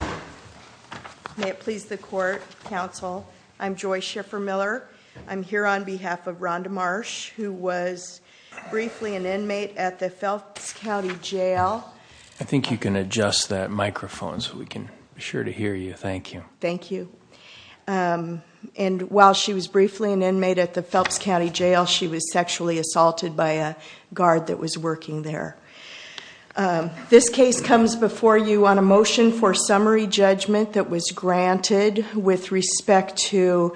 May it please the court, counsel. I'm Joy Schiffer-Miller. I'm here on behalf of Ronda Marsh who was briefly an inmate at the Phelps County Jail. I think you can adjust that microphone so we can be sure to hear you. Thank you. Thank you. And while she was briefly an inmate at the Phelps County Jail, she was sexually assaulted by a guard that was working there. This case comes before you on a motion for summary judgment that was granted with respect to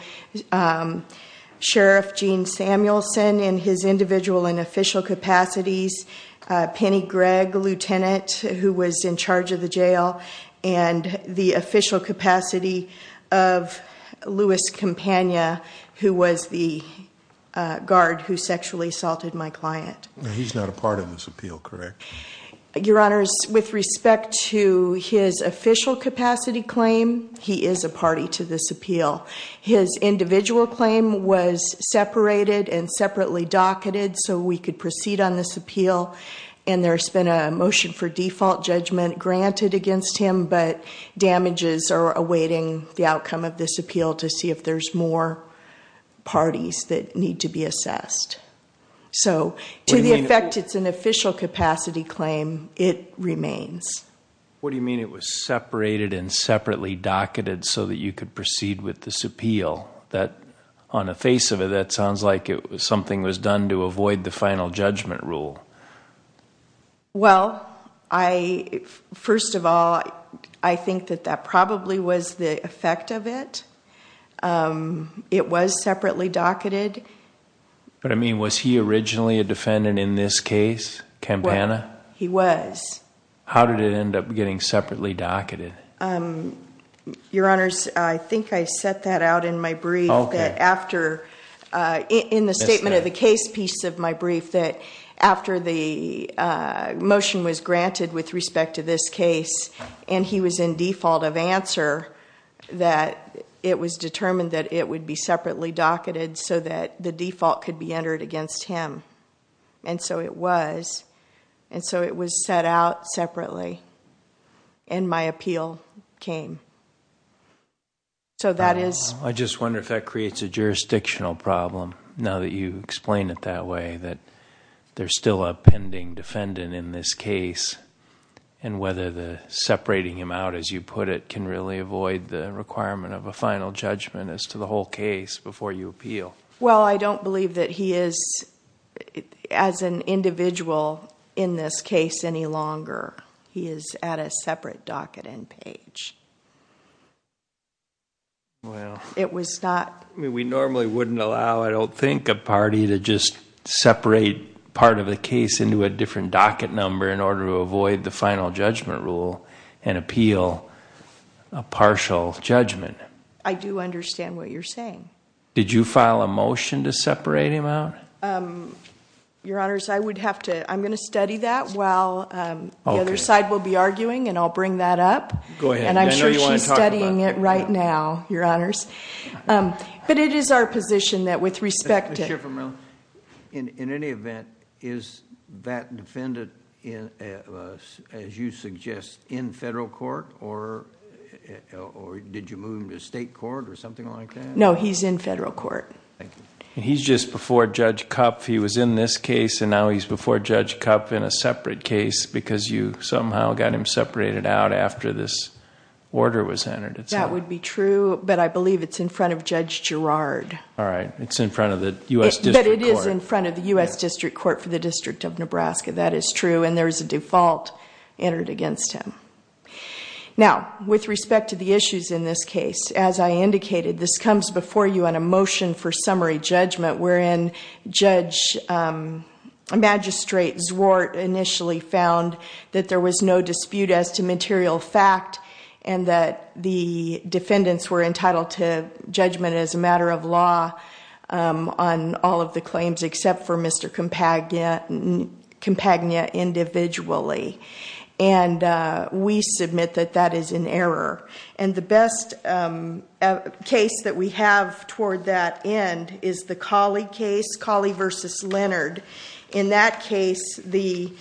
Sheriff Gene Samuelson in his individual and official capacities, Penny Gregg, lieutenant, who was in charge of the jail, and the official capacity of Louis Campagna, who was the Your honors with respect to his official capacity claim He is a party to this appeal his individual claim was separated and separately docketed so we could proceed on this appeal and There's been a motion for default judgment granted against him But damages are awaiting the outcome of this appeal to see if there's more parties that need to be assessed So to the effect it's an official capacity claim it remains What do you mean? It was separated and separately docketed so that you could proceed with this appeal that on a face of it That sounds like it was something was done to avoid the final judgment rule Well, I First of all, I think that that probably was the effect of it It was separately docketed But I mean was he originally a defendant in this case Campana he was How did it end up getting separately docketed? Your honors. I think I set that out in my brief that after in the statement of the case piece of my brief that after the Motion was granted with respect to this case and he was in default of answer That it was determined that it would be separately docketed so that the default could be entered against him and So it was and so it was set out separately and my appeal came So that is I just wonder if that creates a jurisdictional problem now that you explain it that way that there's still a pending defendant in this case and The requirement of a final judgment as to the whole case before you appeal well, I don't believe that he is As an individual in this case any longer. He is at a separate docket end page It was not we normally wouldn't allow I don't think a party to just separate part of the case into a different docket number in order to avoid the final judgment rule and appeal a Partial-judgment, I do understand what you're saying. Did you file a motion to separate him out? Your honors. I would have to I'm going to study that while The other side will be arguing and I'll bring that up go ahead, and I know you want studying it right now your honors But it is our position that with respect to in any event is that defendant in as you suggest in federal court or Did you move him to state court or something like that? No, he's in federal court He's just before judge cup He was in this case and now he's before judge cup in a separate case because you somehow got him separated out after this Order was entered. It's that would be true, but I believe it's in front of Judge Girard All right It's in front of the US but it is in front of the US District Court for the District of Nebraska That is true, and there is a default entered against him Now with respect to the issues in this case as I indicated this comes before you on a motion for summary judgment we're in judge Magistrate Zwart initially found that there was no dispute as to material fact and that the Defendants were entitled to judgment as a matter of law on all of the claims except for mr. Compagnia and Compagnia individually and We submit that that is an error and the best case that we have toward that end is the Collie case Collie versus Leonard in that case the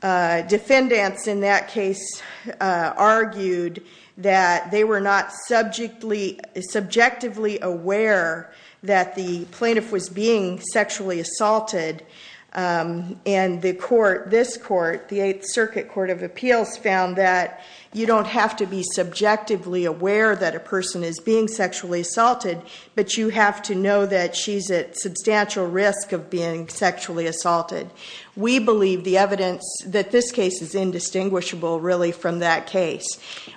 Defendants in that case Argued that they were not subject Lee Subjectively aware that the plaintiff was being sexually assaulted And the court this court the Eighth Circuit Court of Appeals found that you don't have to be subjectively aware That a person is being sexually assaulted, but you have to know that she's at substantial risk of being sexually assaulted We believe the evidence that this case is indistinguishable really from that case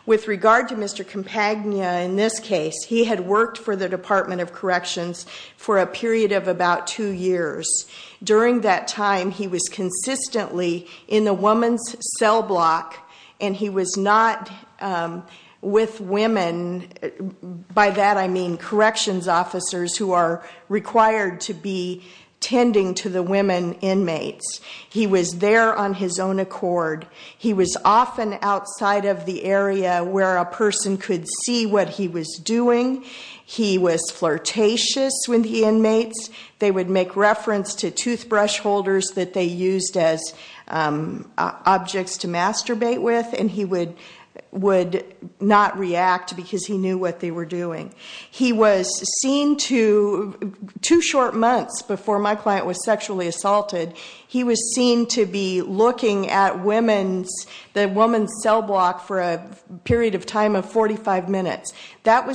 with regard to mr. Compagnia in this case he had worked for the Department of Corrections For a period of about two years During that time. He was consistently in the woman's cell block and he was not with women By that I mean corrections officers who are required to be Tending to the women inmates. He was there on his own accord He was often outside of the area where a person could see what he was doing He was flirtatious when the inmates they would make reference to toothbrush holders that they used as Objects to masturbate with and he would would not react because he knew what they were doing. He was seen to Two short months before my client was sexually assaulted he was seen to be looking at women's the woman's cell block for a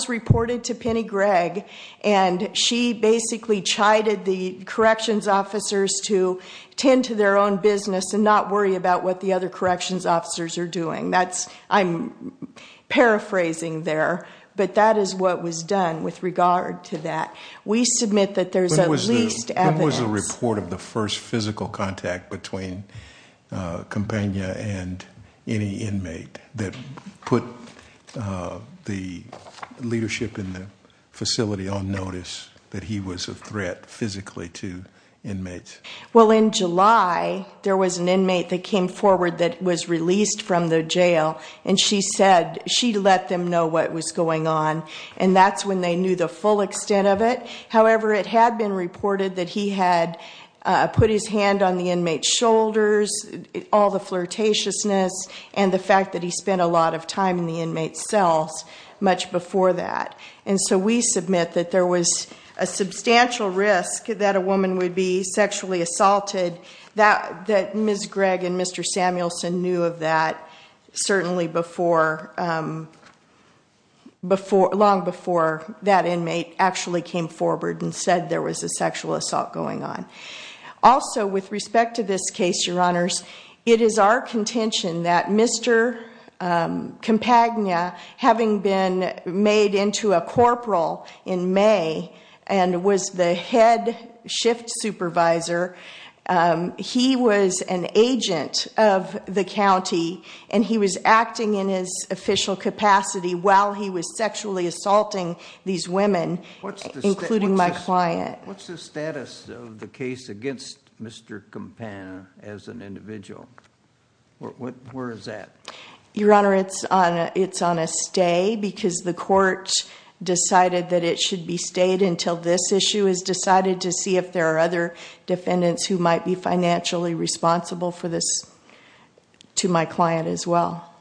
Reported to Penny Gregg and She basically chided the corrections officers to tend to their own business and not worry about what the other Corrections officers are doing. That's I'm Paraphrasing there, but that is what was done with regard to that. We submit that there's a least report of the first physical contact between Compania and any inmate that put The Leadership in the facility on notice that he was a threat physically to inmates well in July There was an inmate that came forward that was released from the jail And she said she let them know what was going on and that's when they knew the full extent of it however, it had been reported that he had Put his hand on the inmate shoulders All the flirtatiousness and the fact that he spent a lot of time in the inmates cells much before that and so we submit that there was a Substantial risk that a woman would be sexually assaulted that that miss Greg and mr. Samuelson knew of that certainly before Before long before that inmate actually came forward and said there was a sexual assault going on Also with respect to this case your honors it is our contention that mr. Compagnia having been made into a corporal in May and was the head shift supervisor He was an agent of the county and he was acting in his official capacity While he was sexually assaulting these women Including my client, what's the status of the case against? Mr. Campana as an individual? Where is that your honor? It's on it's on a stay because the court Decided that it should be stayed until this issue is decided to see if there are other defendants who might be financially responsible for this To my client as well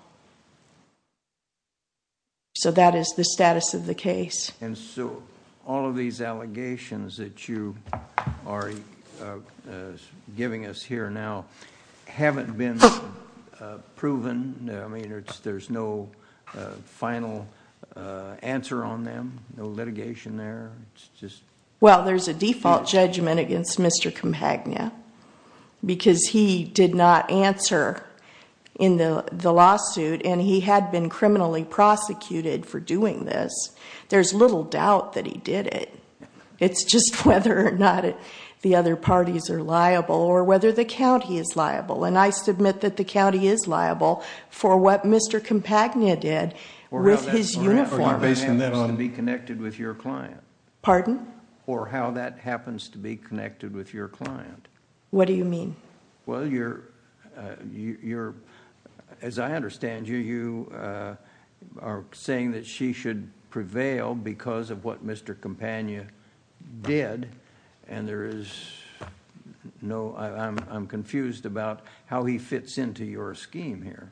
You So that is the status of the case and so all of these allegations that you are Giving us here now haven't been Proven. I mean, it's there's no final Answer on them. No litigation there. It's just well, there's a default judgment against. Mr. Compagnia Because he did not answer in the the lawsuit and he had been criminally prosecuted For doing this. There's little doubt that he did it It's just whether or not The other parties are liable or whether the county is liable and I submit that the county is liable for what? Mr. Compagnia did with his uniform To be connected with your client pardon or how that happens to be connected with your client. What do you mean? well, you're you're as I understand you you Are saying that she should prevail because of what? Mr. Compagnia did and there is No, I'm confused about how he fits into your scheme here.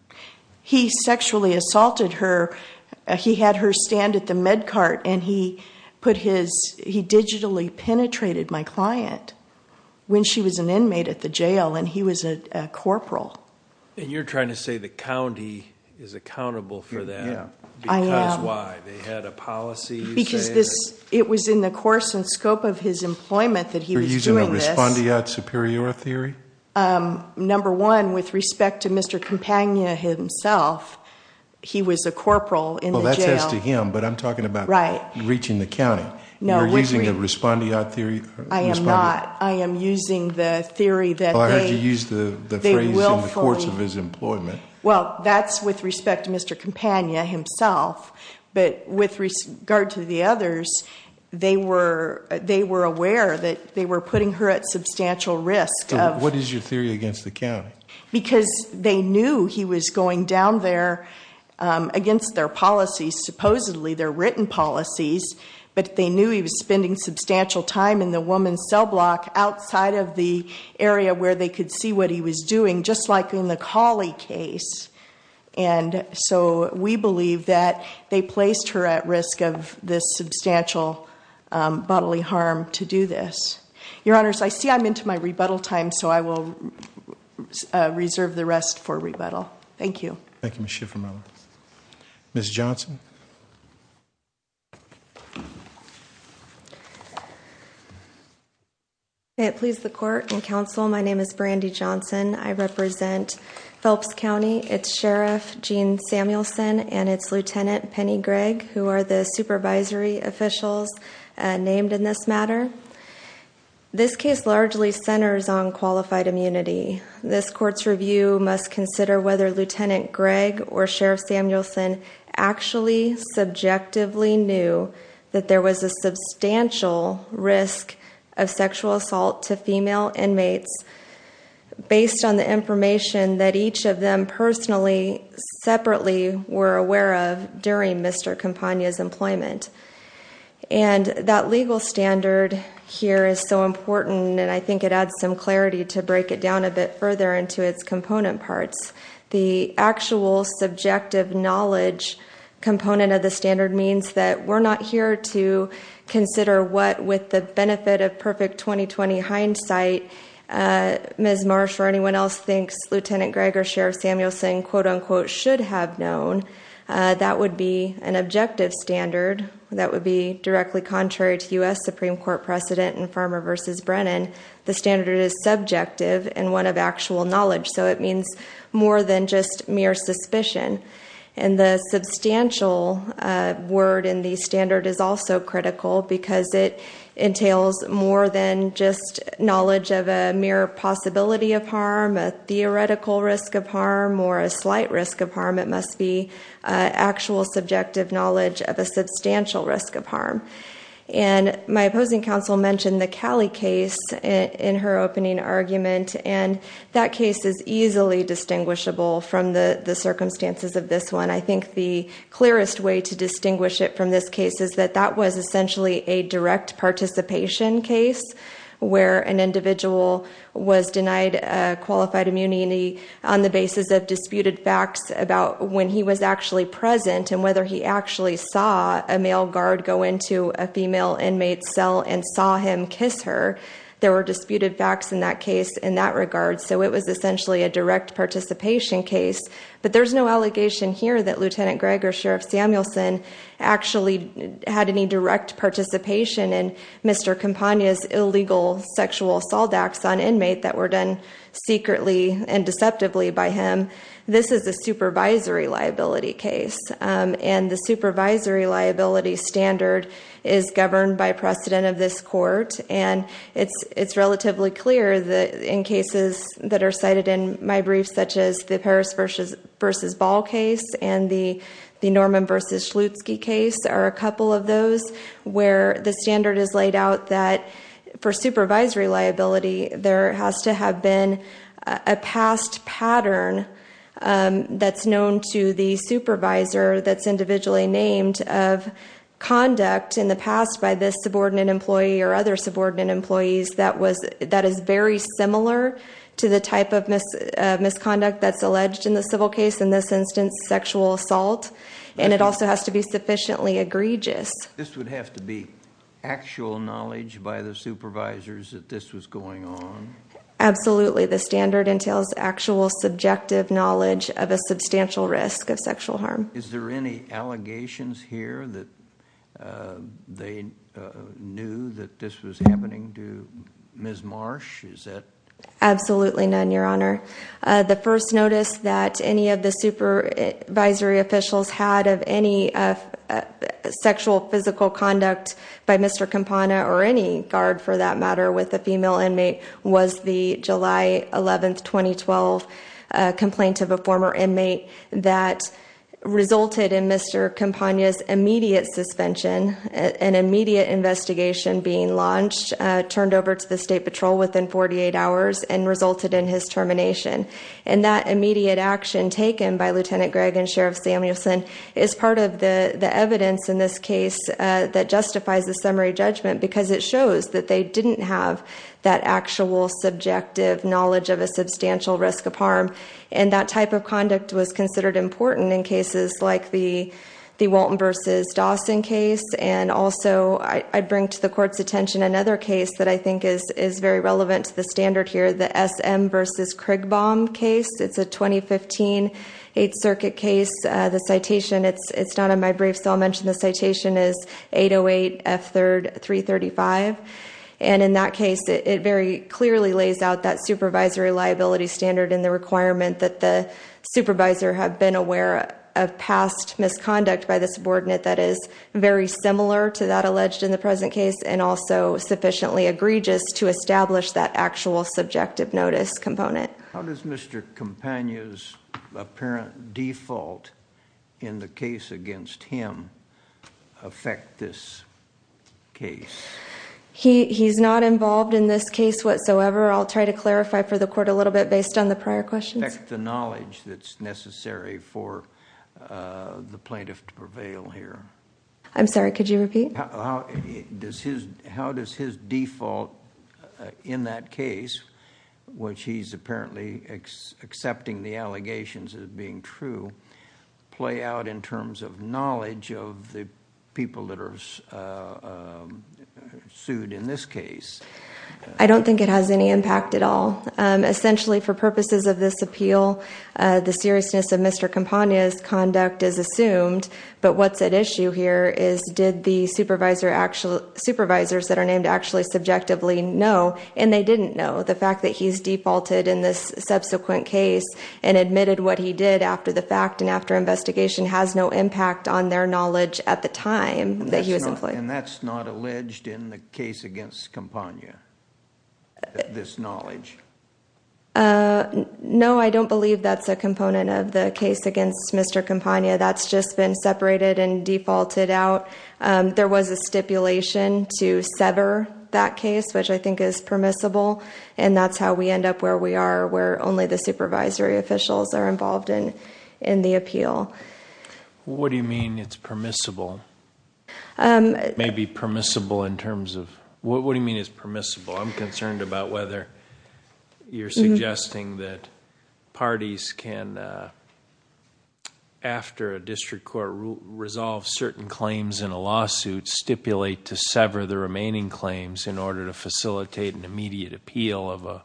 He sexually assaulted her He had her stand at the med cart and he put his he digitally penetrated my client When she was an inmate at the jail, and he was a corporal and you're trying to say the county is Accountable for that. I am Because this it was in the course and scope of his employment that he was doing respond to yet superior theory Number one with respect to mr. Compagnia himself He was a corporal in well that says to him but I'm talking about right reaching the county No, we're using a respondeat theory. I am NOT. I am using the theory that I heard you use the Courts of his employment. Well, that's with respect to mr. Compagnia himself, but with regard to the others They were they were aware that they were putting her at substantial risk What is your theory against the county because they knew he was going down there Against their policies supposedly their written policies but they knew he was spending substantial time in the woman's cell block outside of the area where they could see what he was doing just like in the Kali case and So we believe that they placed her at risk of this substantial Bodily harm to do this your honors. I see I'm into my rebuttal time. So I will Reserve the rest for rebuttal. Thank you. Thank you. Mr. From miss Johnson It please the court and counsel, my name is Brandi Johnson I represent Phelps County its sheriff Jean Samuelson and its lieutenant penny Greg who are the supervisory officials? named in this matter This case largely centers on qualified immunity this court's review must consider whether lieutenant Greg or sheriff Samuelson actually subjectively knew that there was a substantial risk of sexual assault to female inmates Based on the information that each of them personally And that legal standard Here is so important and I think it adds some clarity to break it down a bit further into its component parts the actual subjective knowledge Component of the standard means that we're not here to consider what with the benefit of perfect 2020 hindsight Ms. Marsh or anyone else thinks lieutenant Greg or sheriff Samuelson quote-unquote should have known That would be an objective standard that would be directly contrary to u.s Supreme Court precedent and farmer versus Brennan the standard is subjective and one of actual knowledge so it means more than just mere suspicion and the substantial Word in the standard is also critical because it entails more than just knowledge of a mere possibility of harm a Slight risk of harm. It must be actual subjective knowledge of a substantial risk of harm and My opposing counsel mentioned the Cali case in her opening argument and that case is easily Distinguishable from the the circumstances of this one I think the clearest way to distinguish it from this case is that that was essentially a direct participation case where an individual Was denied qualified immunity on the basis of disputed facts about when he was actually Present and whether he actually saw a male guard go into a female inmate cell and saw him kiss her There were disputed facts in that case in that regard. So it was essentially a direct participation case But there's no allegation here that lieutenant Greg or sheriff Samuelson Actually had any direct participation in mr Campagna's illegal sexual assault acts on inmate that were done secretly and deceptively by him This is a supervisory liability case and the supervisory liability standard is governed by precedent of this court and It's it's relatively clear that in cases that are cited in my briefs such as the Paris versus Versus ball case and the the Norman versus Lutz key case are a couple of those Where the standard is laid out that for supervisory liability there has to have been a past pattern That's known to the supervisor. That's individually named of Conduct in the past by this subordinate employee or other subordinate employees. That was that is very similar to the type of Misconduct that's alleged in the civil case in this instance sexual assault and it also has to be sufficiently egregious to be Actual knowledge by the supervisors that this was going on Absolutely. The standard entails actual subjective knowledge of a substantial risk of sexual harm. Is there any allegations here that? they Knew that this was happening to miss Marsh. Is that absolutely none your honor the first notice that any of the supervisory officials had of any Sexual physical conduct by mr. Campana or any guard for that matter with a female inmate was the July 11th 2012 complaint of a former inmate that Resulted in mr. Campagna's immediate suspension an immediate investigation being launched Turned over to the State Patrol within 48 hours and resulted in his termination and that immediate action By lieutenant Greg and Sheriff Samuelson is part of the the evidence in this case That justifies the summary judgment because it shows that they didn't have that actual subjective knowledge of a substantial risk of harm and that type of conduct was considered important in cases like the the Walton versus Dawson case and also I Bring to the court's attention another case that I think is is very relevant to the standard here the SM versus Craig bomb case It's a 2015 8th Circuit case the citation. It's it's not on my brief So I'll mention the citation is 808 f 3rd 335 and in that case it very clearly lays out that supervisory liability standard in the requirement that the Supervisor have been aware of past misconduct by the subordinate that is very similar to that alleged in the present case and also Sufficiently egregious to establish that actual subjective notice component. How does mr. Campagna's apparent default in the case against him affect this case He he's not involved in this case whatsoever I'll try to clarify for the court a little bit based on the prior questions the knowledge that's necessary for The plaintiff to prevail here. I'm sorry. Could you repeat? This is how does his default in that case Which he's apparently Accepting the allegations as being true Play out in terms of knowledge of the people that are Sued in this case, I don't think it has any impact at all Essentially for purposes of this appeal the seriousness of mr. Campagna's conduct is assumed But what's at issue here is did the supervisor actual supervisors that are named actually subjectively No and they didn't know the fact that he's defaulted in this subsequent case and Admitted what he did after the fact and after investigation has no impact on their knowledge at the time That he was in play and that's not alleged in the case against Campagna this knowledge Uh, no, I don't believe that's a component of the case against mr. Campagna that's just been separated and defaulted out There was a stipulation to sever that case which I think is permissible And that's how we end up where we are where only the supervisory officials are involved in in the appeal What do you mean? It's permissible It may be permissible in terms of what what do you mean is permissible I'm concerned about whether you're suggesting that parties can After a district court Resolve certain claims in a lawsuit stipulate to sever the remaining claims in order to facilitate an immediate appeal of a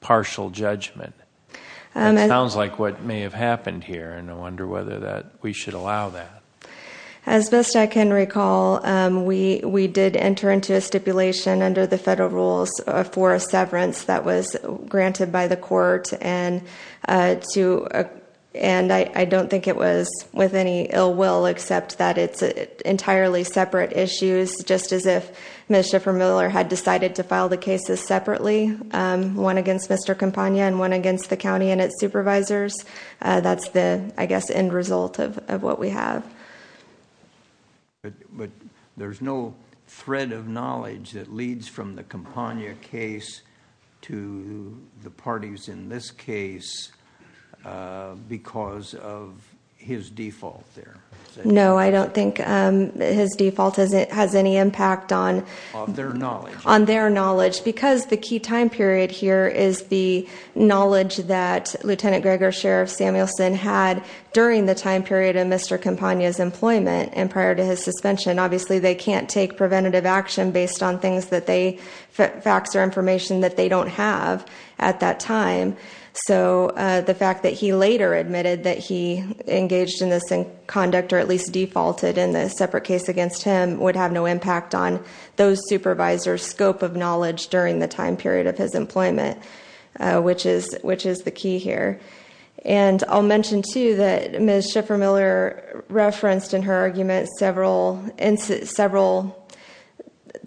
partial judgment Sounds like what may have happened here and I wonder whether that we should allow that As best I can recall we we did enter into a stipulation under the federal rules for a severance that was granted by the court and to And I don't think it was with any ill will except that it's entirely separate issues Just as if mr. Vermeuler had decided to file the cases separately One against mr. Campagna and one against the county and its supervisors. That's the I guess end result of what we have But there's no thread of knowledge that leads from the Campagna case to the parties in this case Because of His default there. No, I don't think His default as it has any impact on on their knowledge because the key time period here is the Knowledge that lieutenant Gregor sheriff Samuelson had during the time period of mr Campagna is employment and prior to his suspension Obviously, they can't take preventative action based on things that they facts or information that they don't have at that time So the fact that he later admitted that he Engaged in this in conduct or at least defaulted in the separate case against him would have no impact on those supervisors scope of knowledge during the time period of his employment Which is which is the key here and I'll mention to that. Ms. Schiffer Miller referenced in her argument several in several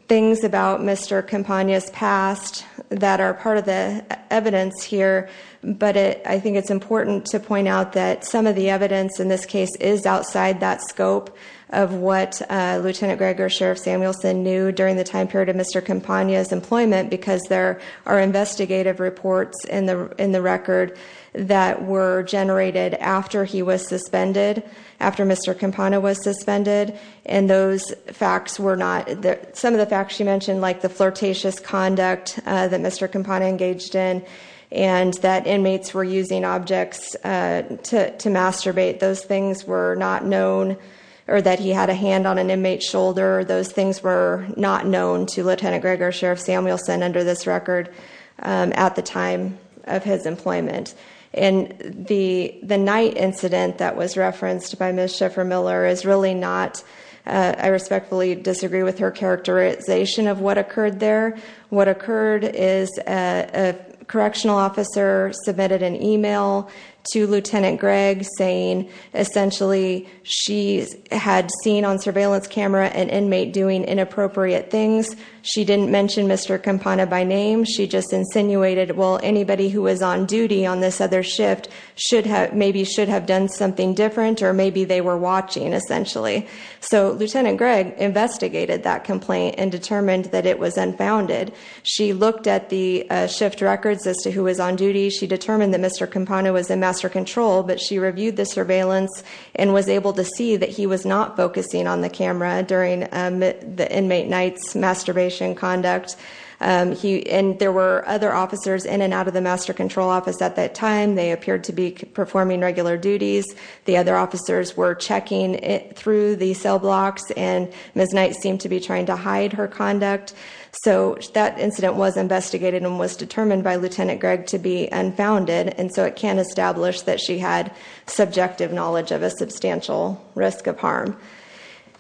things about mr. Campagna's past that are part of the Evidence here, but it I think it's important to point out that some of the evidence in this case is outside that scope of what? Lieutenant Gregor sheriff Samuelson knew during the time period of mr Campagna is employment because there are investigative reports in the in the record that were Generated after he was suspended after mr Campagna was suspended and those facts were not that some of the facts you mentioned like the flirtatious conduct That mr. Campagna engaged in and that inmates were using objects To masturbate those things were not known or that he had a hand on an inmate shoulder Those things were not known to lieutenant Gregor sheriff Samuelson under this record at the time of his employment and The the night incident that was referenced by miss Schiffer Miller is really not I respectfully disagree with her Characterization of what occurred there what occurred is a correctional officer submitted an email to lieutenant Greg saying Essentially she's had seen on surveillance camera and inmate doing inappropriate things. She didn't mention. Mr Campagna by name she just insinuated Well anybody who was on duty on this other shift should have maybe should have done something different or maybe they were watching Essentially so lieutenant Greg Investigated that complaint and determined that it was unfounded. She looked at the shift records as to who was on duty She determined that mr Campagna was in master control But she reviewed the surveillance and was able to see that he was not focusing on the camera during the inmate nights masturbation conduct He and there were other officers in and out of the master control office at that time They appeared to be performing regular duties The other officers were checking it through the cell blocks and miss Knight seemed to be trying to hide her conduct So that incident was investigated and was determined by lieutenant Greg to be unfounded and so it can establish that she had subjective knowledge of a substantial risk of harm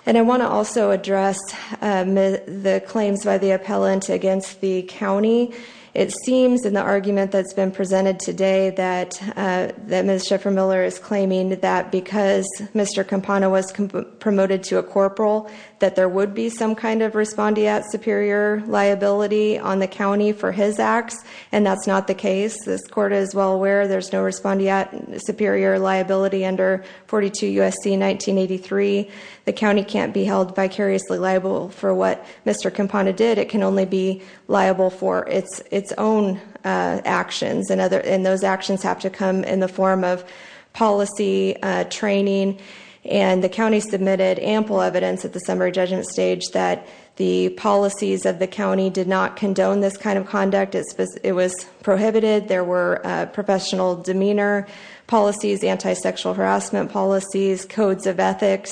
And I want to also address the claims by the appellant against the county it seems in the argument that's been presented today that That mr. For Miller is claiming that because mr Campagna was promoted to a corporal that there would be some kind of respondee at superior Liability on the county for his acts and that's not the case. This court is well aware There's no respondee at superior liability under 42 USC 1983 the county can't be held vicariously liable for what? Mr. Campagna did it can only be liable for its its own Actions and other in those actions have to come in the form of policy training and the county submitted ample evidence at the summary judgment stage that the Policies of the county did not condone this kind of conduct as it was prohibited. There were professional demeanor policies anti-sexual harassment policies codes of ethics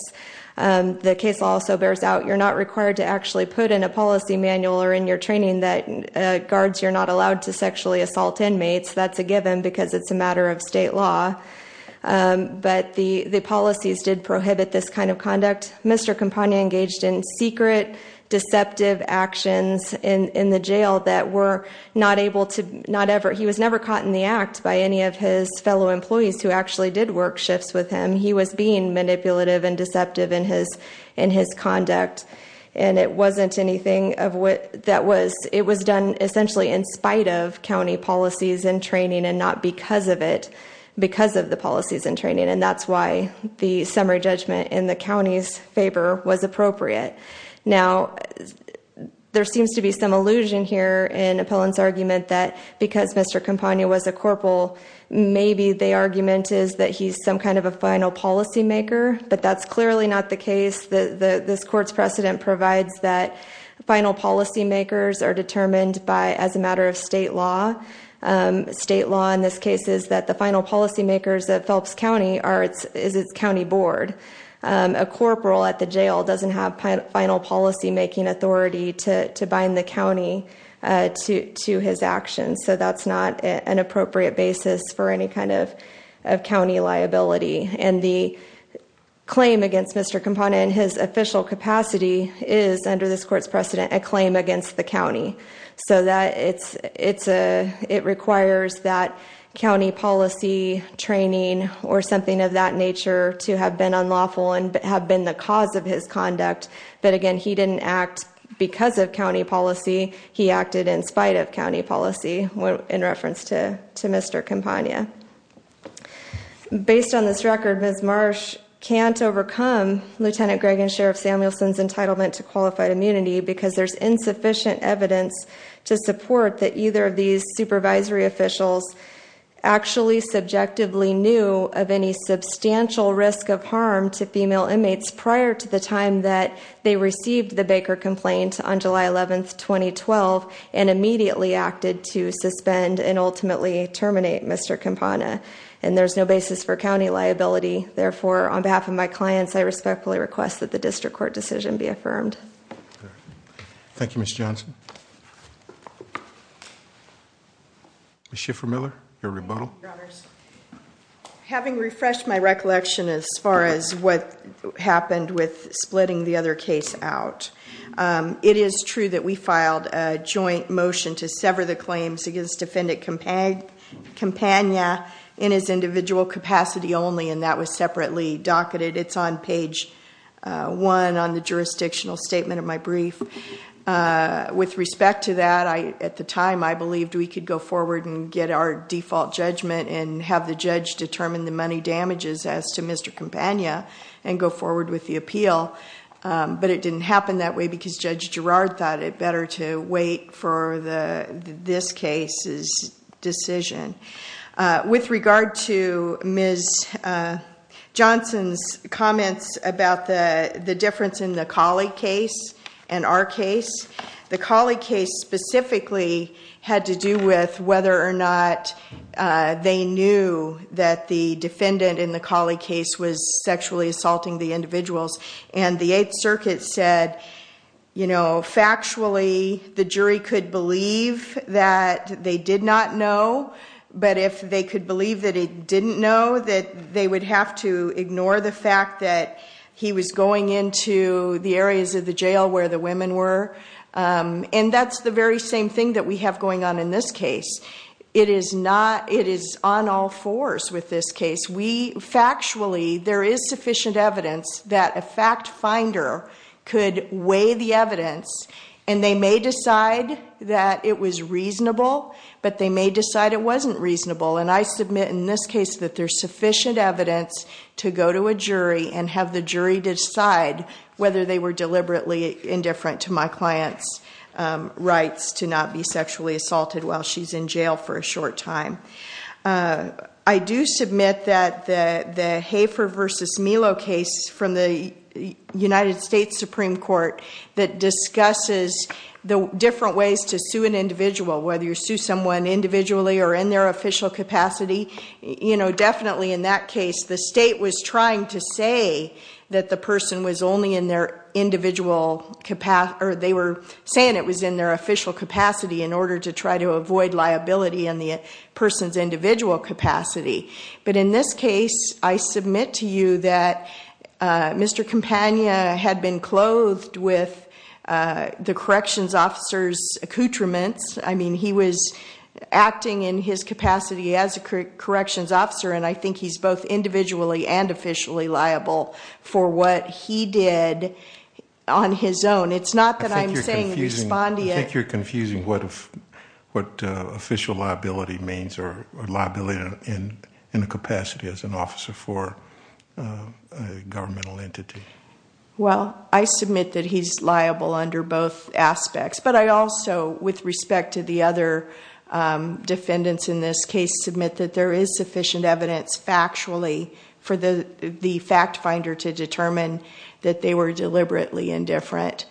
the case also bears out you're not required to actually put in a policy manual or in your training that Guards you're not allowed to sexually assault inmates. That's a given because it's a matter of state law But the the policies did prohibit this kind of conduct. Mr. Campagna engaged in secret Deceptive actions in in the jail that were not able to not ever He was never caught in the act by any of his fellow employees who actually did work shifts with him He was being manipulative and deceptive in his in his conduct And it wasn't anything of what that was It was done essentially in spite of county policies and training and not because of it Because of the policies and training and that's why the summary judgment in the county's favor was appropriate now There seems to be some illusion here in appellants argument that because mr. Campagna was a corporal Maybe the argument is that he's some kind of a final policy maker But that's clearly not the case that this court's precedent provides that Final policy makers are determined by as a matter of state law State law in this case is that the final policy makers that Phelps County are its is its County Board A corporal at the jail doesn't have final policy making authority to bind the county to to his actions, so that's not an appropriate basis for any kind of of county liability and the Claim against mr. Campagna in his official capacity is under this court's precedent a claim against the county So that it's it's a it requires that county policy Training or something of that nature to have been unlawful and have been the cause of his conduct But again, he didn't act because of county policy. He acted in spite of county policy when in reference to to mr. Campagna Based on this record miss Marsh can't overcome Lieutenant Greg and Sheriff Samuelson's entitlement to qualified immunity because there's insufficient evidence to support that either of these supervisory officials actually subjectively knew of any Substantial risk of harm to female inmates prior to the time that they received the Baker complaint on July 11th 2012 and immediately acted to suspend and ultimately terminate mr Campagna, and there's no basis for county liability therefore on behalf of my clients. I respectfully request that the district court decision be affirmed Thank You mr. Johnson Schiffer Miller your rebuttal Having refreshed my recollection as far as what happened with splitting the other case out It is true that we filed a joint motion to sever the claims against defendant compact Campagna in his individual capacity only and that was separately docketed. It's on page 1 on the jurisdictional statement of my brief With respect to that I at the time I believed we could go forward and get our default judgment and have the judge determine the money damages as to mr Campagna and go forward with the appeal but it didn't happen that way because judge Gerard thought it better to wait for the this case is decision with regard to miss Johnson's comments about the the difference in the colleague case and our case the colleague case Specifically had to do with whether or not They knew that the defendant in the colleague case was sexually assaulting the individuals and the 8th Circuit said You know Factually the jury could believe that they did not know but if they could believe that it didn't know that they would have to ignore the fact that He was going into the areas of the jail where the women were And that's the very same thing that we have going on in this case It is not it is on all fours with this case Factually there is sufficient evidence that a fact finder could weigh the evidence and they may decide That it was reasonable, but they may decide it wasn't reasonable and I submit in this case that there's sufficient evidence To go to a jury and have the jury decide whether they were deliberately indifferent to my clients Rights to not be sexually assaulted while she's in jail for a short time I do submit that the the Hafer versus Melo case from the United States Supreme Court that discusses the different ways to sue an individual whether you sue someone Individually or in their official capacity, you know Definitely in that case the state was trying to say that the person was only in their individual Capacity or they were saying it was in their official capacity in order to try to avoid liability in the person's individual capacity But in this case, I submit to you that Mr. Campagna had been clothed with the corrections officers accoutrements, I mean he was Acting in his capacity as a corrections officer, and I think he's both individually and officially liable for what he did On his own it's not that I'm saying respondee. I think you're confusing what if what? official liability means or liability in in a capacity as an officer for Governmental entity. Well, I submit that he's liable under both aspects, but I also with respect to the other Defendants in this case submit that there is sufficient evidence Factually for the the fact finder to determine that they were deliberately indifferent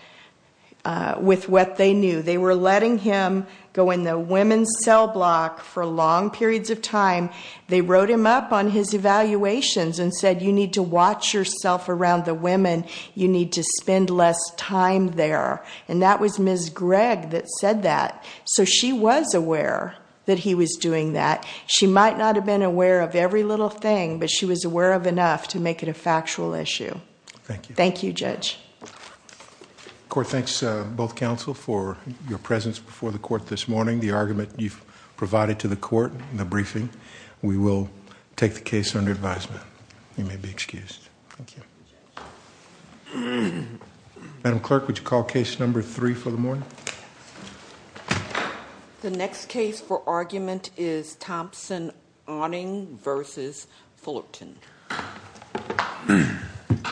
With what they knew they were letting him go in the women's cell block for long periods of time They wrote him up on his evaluations and said you need to watch yourself around the women You need to spend less time there and that was miss Greg that said that so she was aware That he was doing that she might not have been aware of every little thing But she was aware of enough to make it a factual issue Thank you. Thank you judge Court thanks both counsel for your presence before the court this morning the argument you've provided to the court in the briefing We will take the case under advisement. You may be excused Madam clerk, would you call case number three for the morning? The next case for argument is Thompson awning versus Fullerton